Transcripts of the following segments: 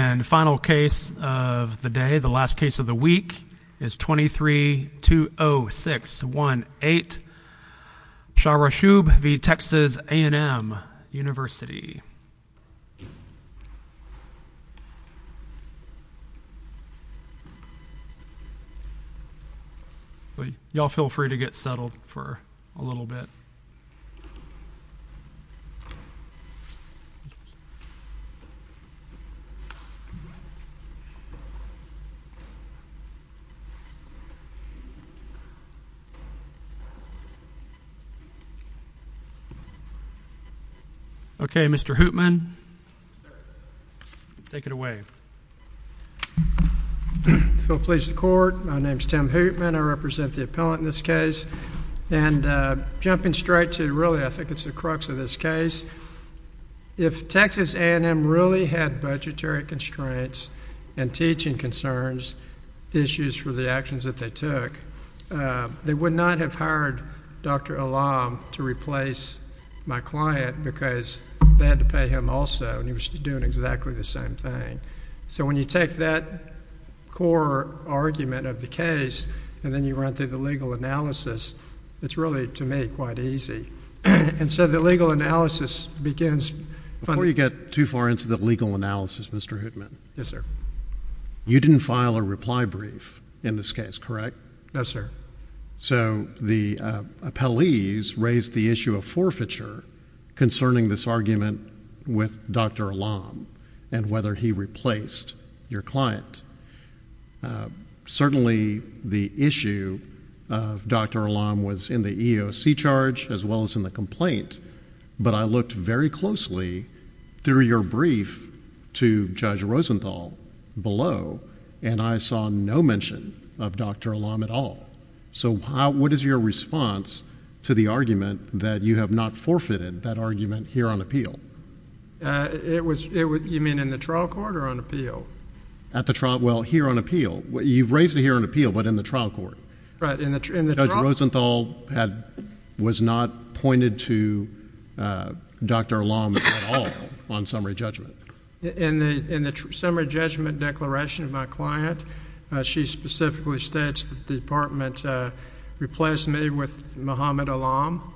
And final case of the day, the last case of the week, is 23-20618 Shahrashoob v. Texas A&M University. Y'all feel free to get settled for a little bit. Okay, Mr. Hoopman, take it away. I feel pleased to report, my name is Tim Hoopman, I represent the appellant in this case. And jumping straight to really, I think it's the crux of this case, if Texas A&M really had budgetary constraints and teaching concerns, issues for the actions that they took, they would not have hired Dr. Elam to replace my client because they had to pay him also, and he was doing exactly the same thing. So when you take that core argument of the case and then you run through the legal analysis, it's really, to me, quite easy. And so the legal analysis begins... Before you get too far into the legal analysis, Mr. Hoopman... Yes, sir. You didn't file a reply brief in this case, correct? No, sir. So the appellees raised the issue of forfeiture concerning this argument with Dr. Elam and whether he replaced your client. Certainly the issue of Dr. Elam was in the EOC charge as well as in the complaint, but I looked very closely through your brief to Judge Rosenthal below, and I saw no mention of Dr. Elam at all. So what is your response to the argument that you have not forfeited that argument here on appeal? You mean in the trial court or on appeal? At the trial... well, here on appeal. You've raised it here on appeal, but in the trial court. Right, in the trial... Judge Rosenthal was not pointed to Dr. Elam at all on summary judgment. In the summary judgment declaration of my client, she specifically states that the department replaced me with Muhammad Elam,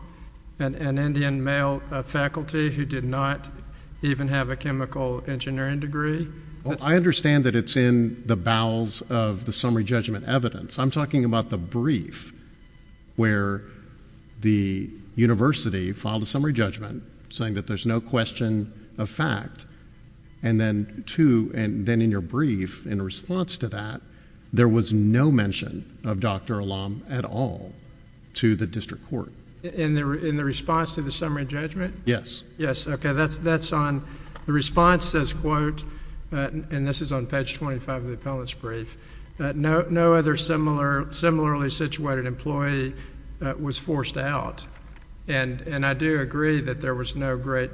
an Indian male faculty who did not even have a chemical engineering degree. Well, I understand that it's in the bowels of the summary judgment evidence. I'm talking about the brief where the university filed a summary judgment saying that there's no question of fact, and then to... and then in your brief, in response to that, there was no mention of Dr. Elam at all to the district court. In the response to the summary judgment? Yes. Yes, okay. That's on... the response says, quote, and this is on page 25 of the appellant's brief, no other similarly situated employee was forced out. And I do agree that there was no great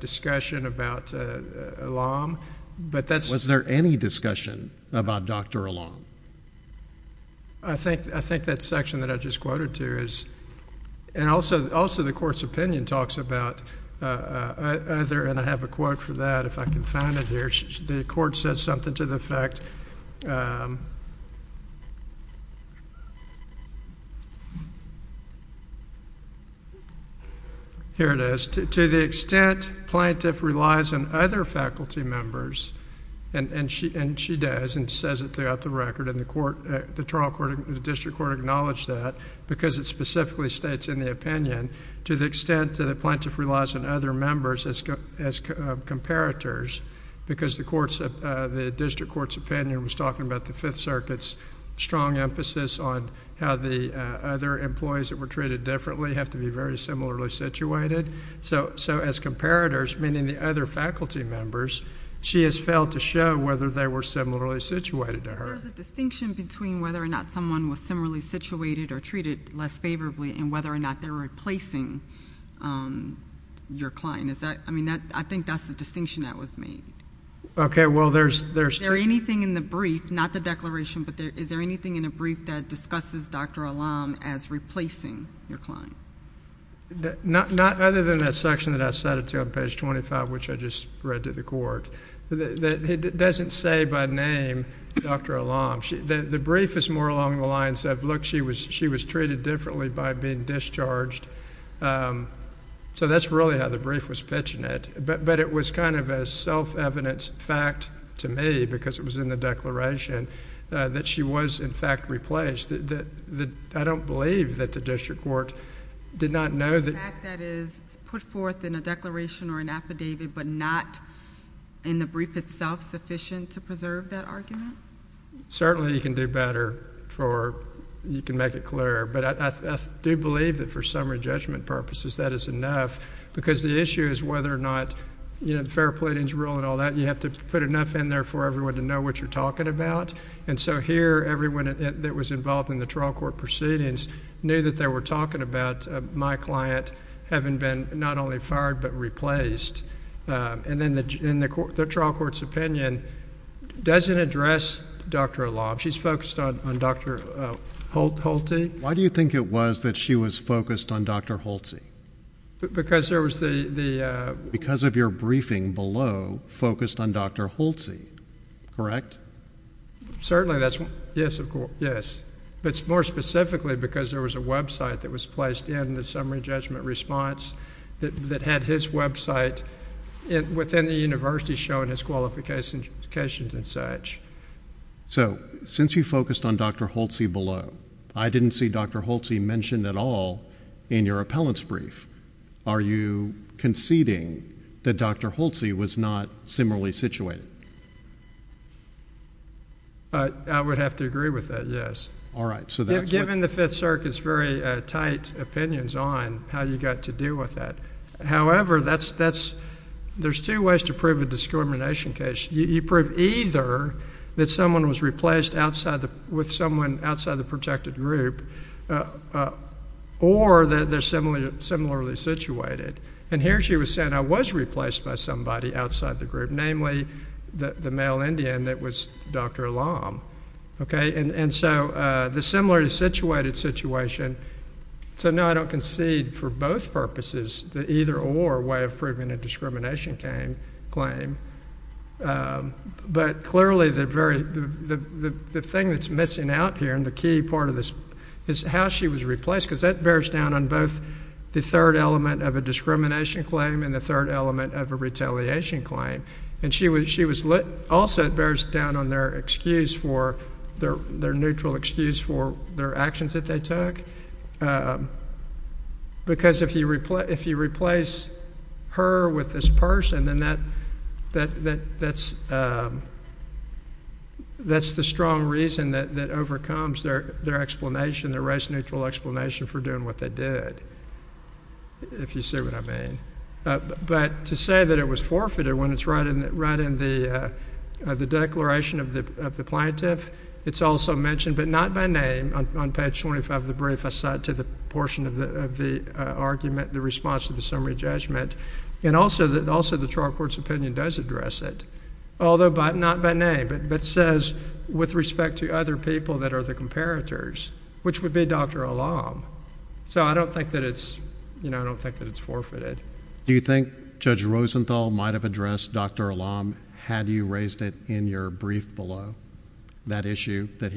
discussion about Elam, but that's... Was there any discussion about Dr. Elam? I think that section that I just quoted to is... and also the court's opinion talks about... and I have a quote for that, if I can find it here. The court says something to the effect... The district court acknowledged that because it specifically states in the opinion to the extent that the plaintiff relies on other members as comparators because the court's... the district court's opinion was talking about the Fifth Circuit's strong emphasis on how the other employees that were treated differently have to be very similarly situated. So, as comparators, meaning the other faculty members, she has failed to show whether they were similarly situated to her. Is there a distinction between whether or not someone was similarly situated or treated less favorably and whether or not they're replacing your client? Is that... I mean, I think that's the distinction that was made. Okay, well, there's... Is there anything in the brief, not the declaration, but is there anything in the brief that discusses Dr. Elam as replacing your client? Not other than that section that I cited to you on page 25, which I just read to the court. It doesn't say by name, Dr. Elam. The brief is more along the lines of, look, she was treated differently by being discharged. So that's really how the brief was pitching it. But it was kind of a self-evident fact to me, because it was in the declaration, that she was, in fact, replaced. I don't believe that the district court did not know that... The fact that it is put forth in a declaration or an affidavit, but not in the brief itself sufficient to preserve that argument? Certainly, you can do better for... you can make it clearer. But I do believe that for summary judgment purposes, that is enough, because the issue is whether or not... You know, the fair pleadings rule and all that, you have to put enough in there for everyone to know what you're talking about. And so here, everyone that was involved in the trial court proceedings knew that they were talking about my client having been not only fired, but replaced. And then the trial court's opinion doesn't address Dr. Elam. She's focused on Dr. Holtzi. Why do you think it was that she was focused on Dr. Holtzi? Because there was the... Because of your briefing below focused on Dr. Holtzi, correct? Certainly that's... yes, of course, yes. But more specifically, because there was a website that was placed in the summary judgment response that had his website within the university showing his qualifications and such. So, since you focused on Dr. Holtzi below, I didn't see Dr. Holtzi mentioned at all in your appellant's brief. Are you conceding that Dr. Holtzi was not similarly situated? I would have to agree with that, yes. All right, so that's what... Given the Fifth Circuit's very tight opinions on how you got to deal with that. However, that's... there's two ways to prove a discrimination case. You prove either that someone was replaced with someone outside the protected group or that they're similarly situated. And here she was saying, I was replaced by somebody outside the group, namely the male Indian that was Dr. Lam. And so, the similarly situated situation... So, no, I don't concede for both purposes the either-or way of proving a discrimination claim. But, clearly, the very... the thing that's missing out here and the key part of this is how she was replaced. Because that bears down on both the third element of a discrimination claim and the third element of a retaliation claim. And she was... also, it bears down on their excuse for... their neutral excuse for their actions that they took. Because if you replace her with this person, then that's the strong reason that overcomes their explanation... their race-neutral explanation for doing what they did, if you see what I mean. But, to say that it was forfeited when it's right in the Declaration of the Plaintiff... It's also mentioned, but not by name, on page 25 of the brief, aside to the portion of the argument, the response to the summary judgment. And also, the trial court's opinion does address it. Although, not by name, but says with respect to other people that are the comparators, which would be Dr. Lam. So, I don't think that it's... you know, I don't think that it's forfeited. Do you think Judge Rosenthal might have addressed Dr. Lam, had you raised it in your brief below? That issue, that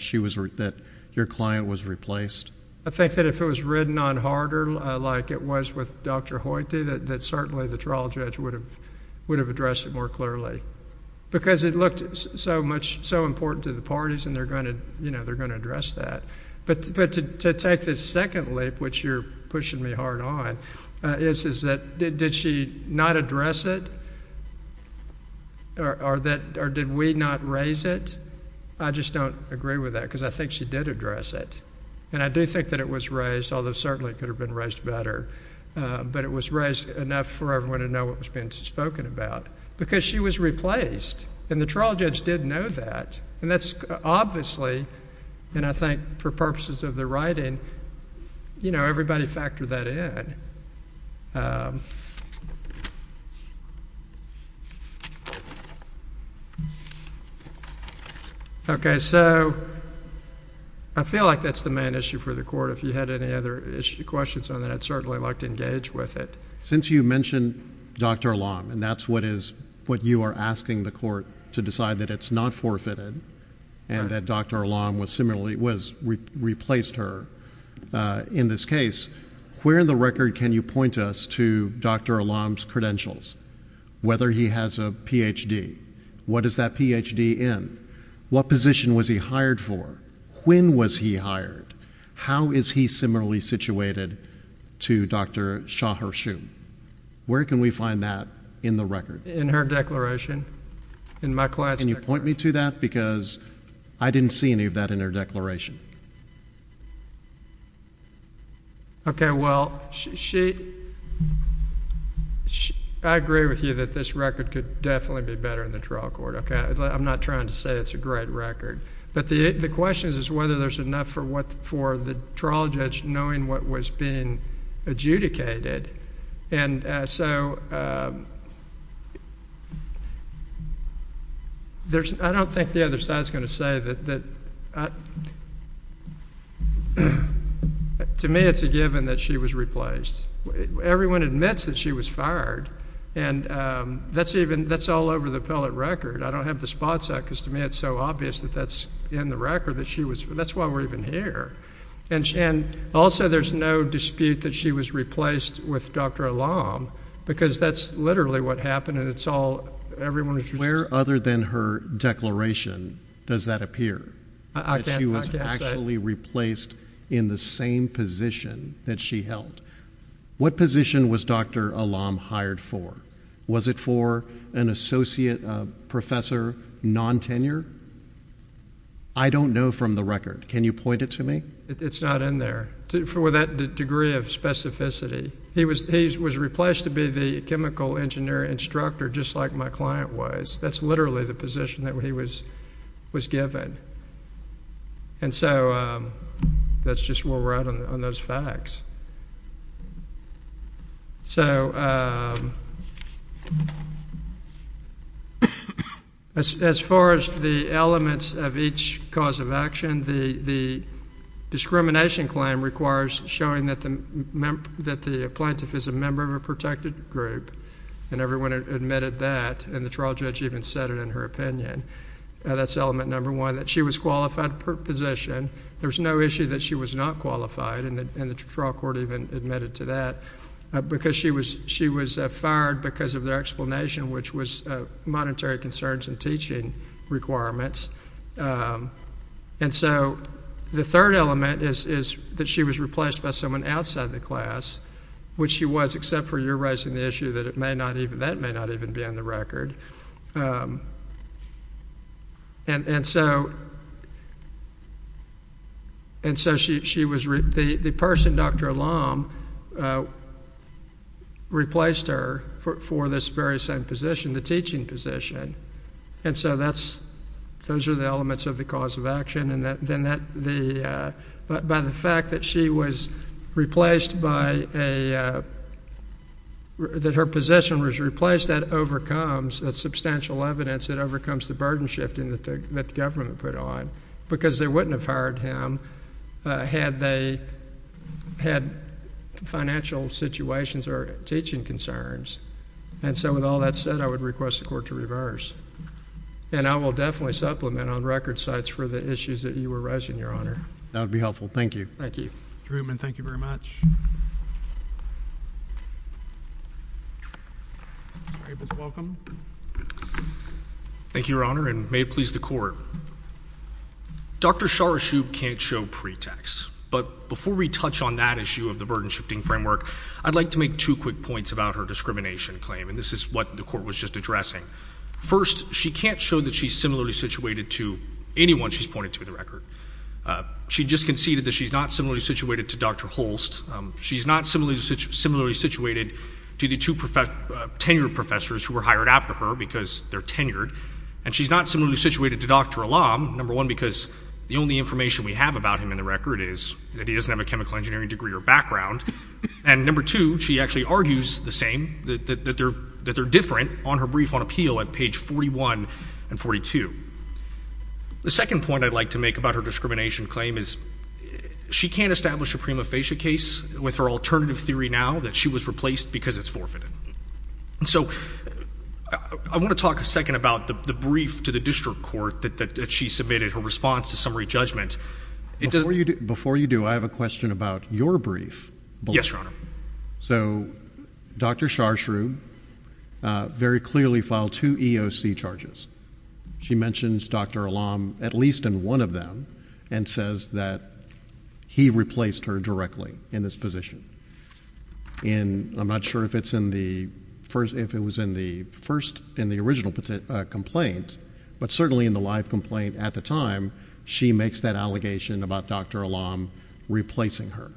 she was... that your client was replaced? I think that if it was written on harder, like it was with Dr. Hoyte, that certainly the trial judge would have addressed it more clearly. Because it looked so much... so important to the parties, and they're going to, you know, they're going to address that. But, to take this second leap, which you're pushing me hard on, is that did she not address it? Or did we not raise it? I just don't agree with that, because I think she did address it. And, I do think that it was raised, although certainly it could have been raised better. But, it was raised enough for everyone to know what was being spoken about. Because she was replaced, and the trial judge did know that. And, that's obviously... and I think for purposes of the writing, you know, everybody factored that in. Okay. So, I feel like that's the main issue for the court. If you had any other questions on that, I'd certainly like to engage with it. Since you mentioned Dr. Alam, and that's what is... what you are asking the court to decide that it's not forfeited, and that Dr. Alam was similarly... was... replaced her in this case, where in the record can you point us to Dr. Alam's credentials? Whether he has a Ph.D. What is that Ph.D. in? What position was he hired for? When was he hired? How is he similarly situated to Dr. Shaharshu? Where can we find that in the record? In her declaration. In my client's declaration. Can you point me to that? Because, I didn't see any of that in her declaration. Okay. Well, she... I agree with you that this record could definitely be better in the trial court. Okay. I'm not trying to say it's a great record. But, the question is whether there's enough for the trial judge knowing what was being adjudicated. And, so... I don't think the other side is going to say that... To me, it's a given that she was replaced. Everyone admits that she was fired. And, that's even... that's all over the appellate record. I don't have the spots out, because to me it's so obvious that that's in the record that she was... That's why we're even here. And, also there's no dispute that she was replaced with Dr. Alam, because that's literally what happened. And, it's all... everyone... Where other than her declaration does that appear? I can't say. That she was actually replaced in the same position that she held. What position was Dr. Alam hired for? Was it for an associate professor, non-tenure? I don't know from the record. Can you point it to me? It's not in there, for that degree of specificity. He was replaced to be the chemical engineer instructor, just like my client was. That's literally the position that he was given. And, so... That's just where we're at on those facts. So... As far as the elements of each cause of action, the discrimination claim requires showing that the plaintiff is a member of a protected group. And, everyone admitted that. And, the trial judge even said it in her opinion. That's element number one, that she was qualified for her position. There's no issue that she was not qualified. And, the trial court even admitted to that. Because she was fired because of their explanation, which was monetary concerns and teaching requirements. And, so... The third element is that she was replaced by someone outside the class. Which she was, except for you raising the issue that it may not even... That may not even be on the record. And, so... And, so she was... The person, Dr. Alam, replaced her for this very same position, the teaching position. And, so that's... Those are the elements of the cause of action. And, then that... By the fact that she was replaced by a... That her position was replaced, that overcomes... That's substantial evidence that overcomes the burden shifting that the government put on. Because they wouldn't have fired him, had they... Had financial situations or teaching concerns. And, so with all that said, I would request the court to reverse. And, I will definitely supplement on record sites for the issues that you were raising, Your Honor. That would be helpful. Thank you. Thank you. Mr. Reutemann, thank you very much. Mr. Ables, welcome. Thank you, Your Honor. And, may it please the court. Dr. Sharashoub can't show pretext. But, before we touch on that issue of the burden shifting framework, I'd like to make two quick points about her discrimination claim. And, this is what the court was just addressing. First, she can't show that she's similarly situated to anyone she's pointed to in the record. She just conceded that she's not similarly situated to Dr. Holst. She's not similarly situated to the two tenured professors who were hired after her, because they're tenured. And, she's not similarly situated to Dr. Alam, number one, because the only information we have about him in the record is that he doesn't have a chemical engineering degree or background. And, number two, she actually argues the same, that they're different on her brief on appeal at page 41 and 42. The second point I'd like to make about her discrimination claim is, she can't establish a prima facie case with her alternative theory now that she was replaced because it's forfeited. So, I want to talk a second about the brief to the district court that she submitted, her response to summary judgment. Before you do, I have a question about your brief. Yes, Your Honor. So, Dr. Sharshroo very clearly filed two EOC charges. She mentions Dr. Alam at least in one of them and says that he replaced her directly in this position. And, I'm not sure if it's in the first, if it was in the first, in the original complaint, but certainly in the live complaint at the time, she makes that allegation about Dr. Alam replacing her.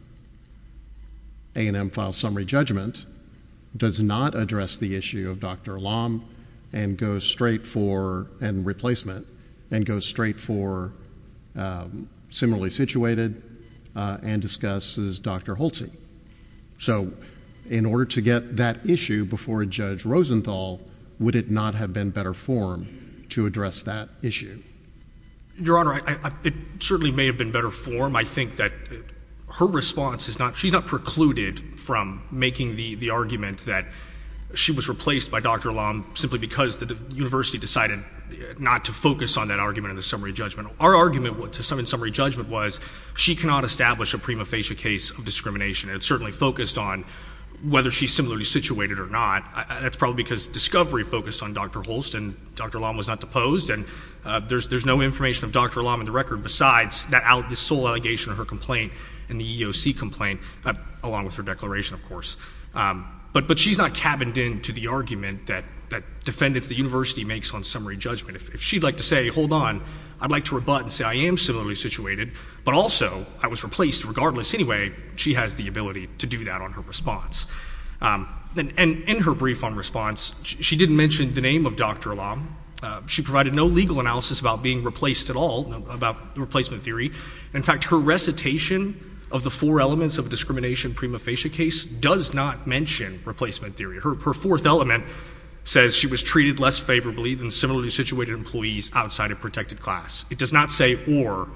A&M files summary judgment does not address the issue of Dr. Alam and goes straight for, and replacement, and goes straight for similarly situated and discusses Dr. Holtzi. So, in order to get that issue before Judge Rosenthal, would it not have been better form to address that issue? Your Honor, it certainly may have been better form. I think that her response is not, she's not precluded from making the argument that she was replaced by Dr. Alam simply because the university decided not to focus on that argument in the summary judgment. Our argument in summary judgment was she cannot establish a prima facie case of discrimination. It certainly focused on whether she's similarly situated or not. That's probably because discovery focused on Dr. Holtz and Dr. Alam was not deposed, and there's no information of Dr. Alam in the record besides the sole allegation of her complaint and the EOC complaint along with her declaration, of course. But she's not cabined in to the argument that defendants, the university, makes on summary judgment. If she'd like to say, hold on, I'd like to rebut and say I am similarly situated, but also I was replaced regardless. Anyway, she has the ability to do that on her response. And in her brief on response, she didn't mention the name of Dr. Alam. She provided no legal analysis about being replaced at all, about the replacement theory. In fact, her recitation of the four elements of a discrimination prima facie case does not mention replacement theory. Her fourth element says she was treated less favorably than similarly situated employees outside of protected class. It does not say or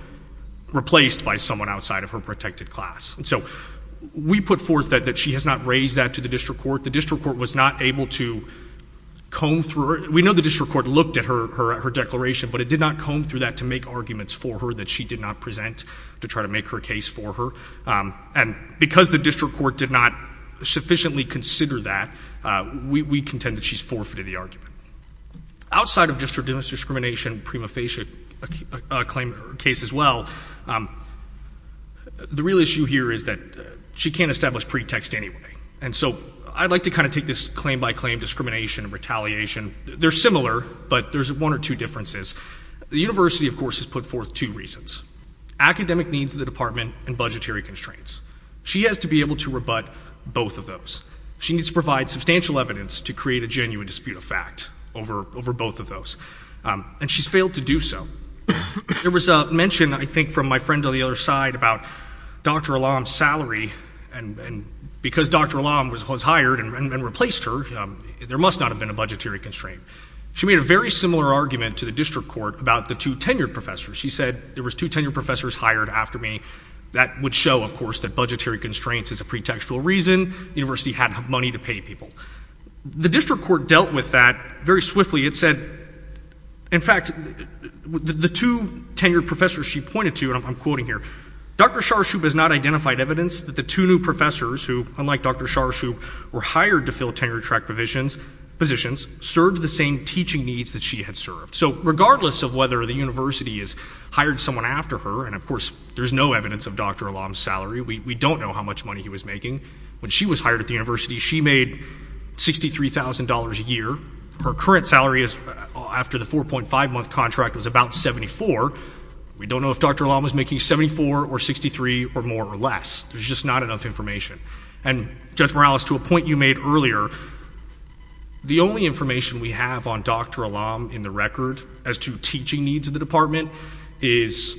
replaced by someone outside of her protected class. And so we put forth that she has not raised that to the district court. The district court was not able to comb through her. We know the district court looked at her declaration, but it did not comb through that to make arguments for her that she did not present to try to make her case for her. And because the district court did not sufficiently consider that, we contend that she's forfeited the argument. Outside of just her discrimination prima facie case as well, the real issue here is that she can't establish pretext anyway. And so I'd like to kind of take this claim by claim discrimination and retaliation. They're similar, but there's one or two differences. The university, of course, has put forth two reasons, academic needs of the department and budgetary constraints. She has to be able to rebut both of those. She needs to provide substantial evidence to create a genuine dispute of fact over both of those. And she's failed to do so. There was a mention, I think, from my friend on the other side about Dr. Alam's salary, and because Dr. Alam was hired and replaced her, there must not have been a budgetary constraint. She made a very similar argument to the district court about the two tenured professors. She said, there was two tenured professors hired after me. That would show, of course, that budgetary constraints is a pretextual reason. The university had money to pay people. The district court dealt with that very swiftly. It said, in fact, the two tenured professors she pointed to, and I'm quoting here, Dr. Sharshoop has not identified evidence that the two new professors who, unlike Dr. Sharshoop, were hired to fill tenure track positions, served the same teaching needs that she had served. So regardless of whether the university has hired someone after her, and of course there's no evidence of Dr. Alam's salary, we don't know how much money he was making. When she was hired at the university, she made $63,000 a year. Her current salary after the 4.5-month contract was about $74,000. We don't know if Dr. Alam was making $74,000 or $63,000 or more or less. There's just not enough information. And Judge Morales, to a point you made earlier, the only information we have on Dr. Alam in the record as to teaching needs of the department is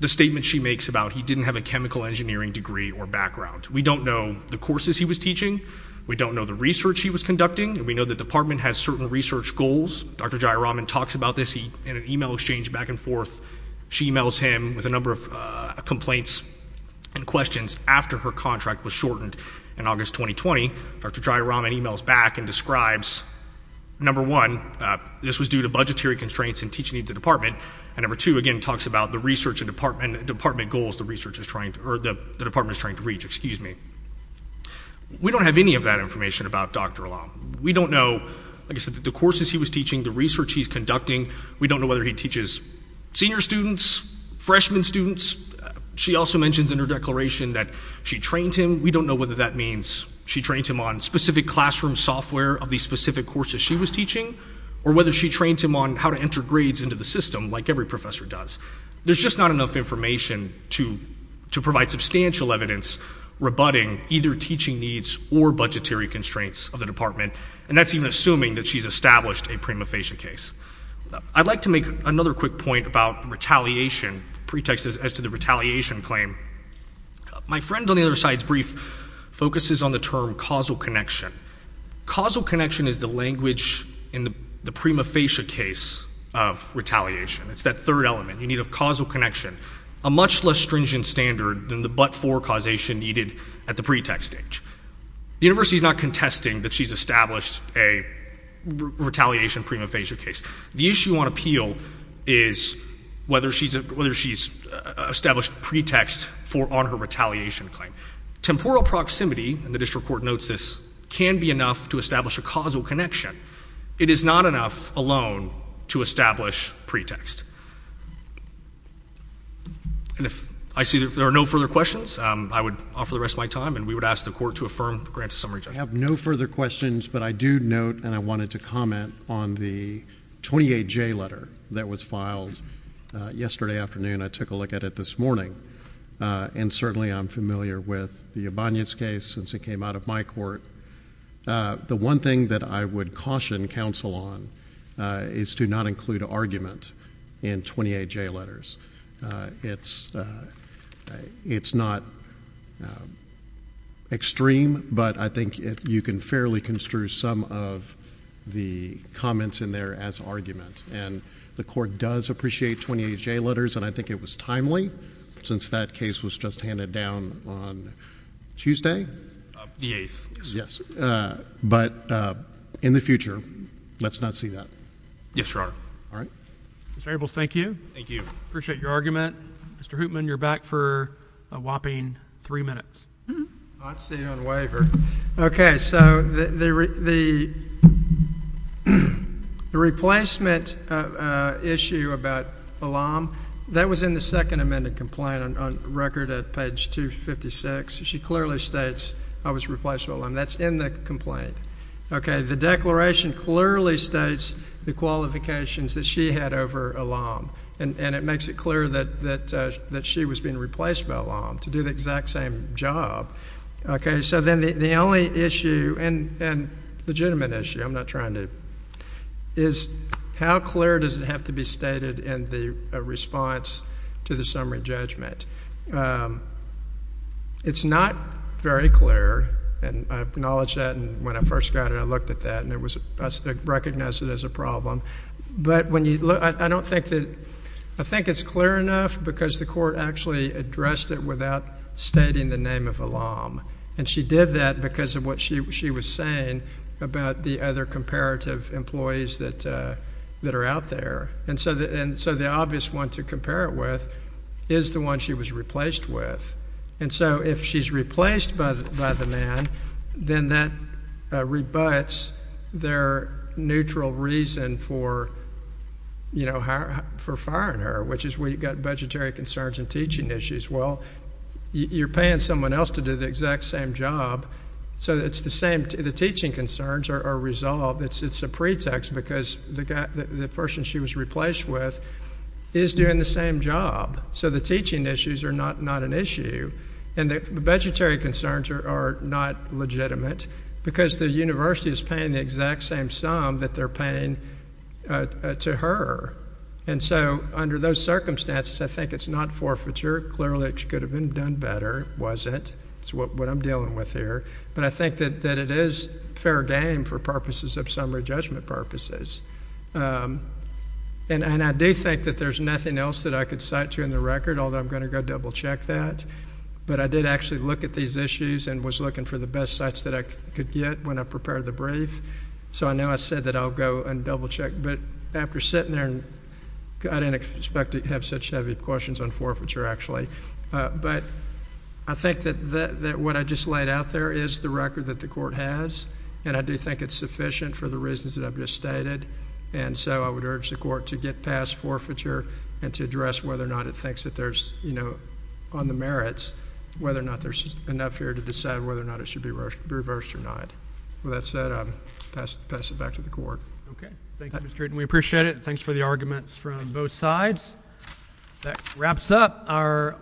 the statement she makes about he didn't have a chemical engineering degree or background. We don't know the courses he was teaching. We don't know the research he was conducting. We know the department has certain research goals. Dr. Jayaraman talks about this in an e-mail exchange back and forth. She e-mails him with a number of complaints and questions after her contract was shortened in August 2020. Dr. Jayaraman e-mails back and describes, number one, this was due to budgetary constraints in teaching needs of the department, and number two, again, talks about the research and department goals the department is trying to reach. We don't have any of that information about Dr. Alam. We don't know, like I said, the courses he was teaching, the research he's conducting. We don't know whether he teaches senior students, freshman students. She also mentions in her declaration that she trained him. We don't know whether that means she trained him on specific classroom software of the specific courses she was teaching or whether she trained him on how to enter grades into the system like every professor does. There's just not enough information to provide substantial evidence rebutting either teaching needs or budgetary constraints of the department, and that's even assuming that she's established a prima facie case. I'd like to make another quick point about retaliation, pretexts as to the retaliation claim. My friend on the other side's brief focuses on the term causal connection. Causal connection is the language in the prima facie case of retaliation. It's that third element. You need a causal connection, a much less stringent standard than the but-for causation needed at the pretext stage. The university is not contesting that she's established a retaliation prima facie case. The issue on appeal is whether she's established a pretext on her retaliation claim. Temporal proximity, and the district court notes this, can be enough to establish a causal connection. It is not enough alone to establish pretext. And if I see that there are no further questions, I would offer the rest of my time, and we would ask the Court to affirm the grant to summary judgment. I have no further questions, but I do note and I wanted to comment on the 28J letter that was filed yesterday afternoon. I took a look at it this morning, and certainly I'm familiar with the Ibanez case since it came out of my court. The one thing that I would caution counsel on is to not include argument in 28J letters. It's not extreme, but I think you can fairly construe some of the comments in there as argument. And the Court does appreciate 28J letters, and I think it was timely since that case was just handed down on Tuesday? The 8th. But in the future, let's not see that. Yes, Your Honor. All right. Mr. Ables, thank you. Thank you. Appreciate your argument. Mr. Hoopman, you're back for a whopping three minutes. Not seen on waiver. Okay, so the replacement issue about Elam, that was in the second amended complaint on record at page 256. She clearly states, I was replaced by Elam. That's in the complaint. Okay, the declaration clearly states the qualifications that she had over Elam, and it makes it clear that she was being replaced by Elam to do the exact same job. Okay, so then the only issue, and legitimate issue, I'm not trying to, is how clear does it have to be stated in the response to the summary judgment? It's not very clear, and I acknowledge that, and when I first got it, I looked at that, and I recognized it as a problem. But I don't think that, I think it's clear enough because the Court actually addressed it without stating the name of Elam. And she did that because of what she was saying about the other comparative employees that are out there. And so the obvious one to compare it with is the one she was replaced with. And so if she's replaced by the man, then that rebutts their neutral reason for firing her, which is we've got budgetary concerns and teaching issues. Well, you're paying someone else to do the exact same job, so it's the same. The teaching concerns are resolved. It's a pretext because the person she was replaced with is doing the same job. So the teaching issues are not an issue, and the budgetary concerns are not legitimate because the university is paying the exact same sum that they're paying to her. And so under those circumstances, I think it's not forfeiture. Clearly, it could have been done better. It wasn't. It's what I'm dealing with here. But I think that it is fair game for purposes of summary judgment purposes. And I do think that there's nothing else that I could cite to in the record, although I'm going to go double-check that. But I did actually look at these issues and was looking for the best sites that I could get when I prepared the brief. So I know I said that I'll go and double-check. But after sitting there, I didn't expect to have such heavy questions on forfeiture, actually. But I think that what I just laid out there is the record that the court has, and I do think it's sufficient for the reasons that I've just stated. And so I would urge the court to get past forfeiture and to address whether or not it thinks that there's, you know, on the merits, whether or not there's enough here to decide whether or not it should be reversed or not. With that said, I'll pass it back to the court. Okay. Thank you, Mr. Treden. We appreciate it. Thanks for the arguments from both sides. That wraps up our—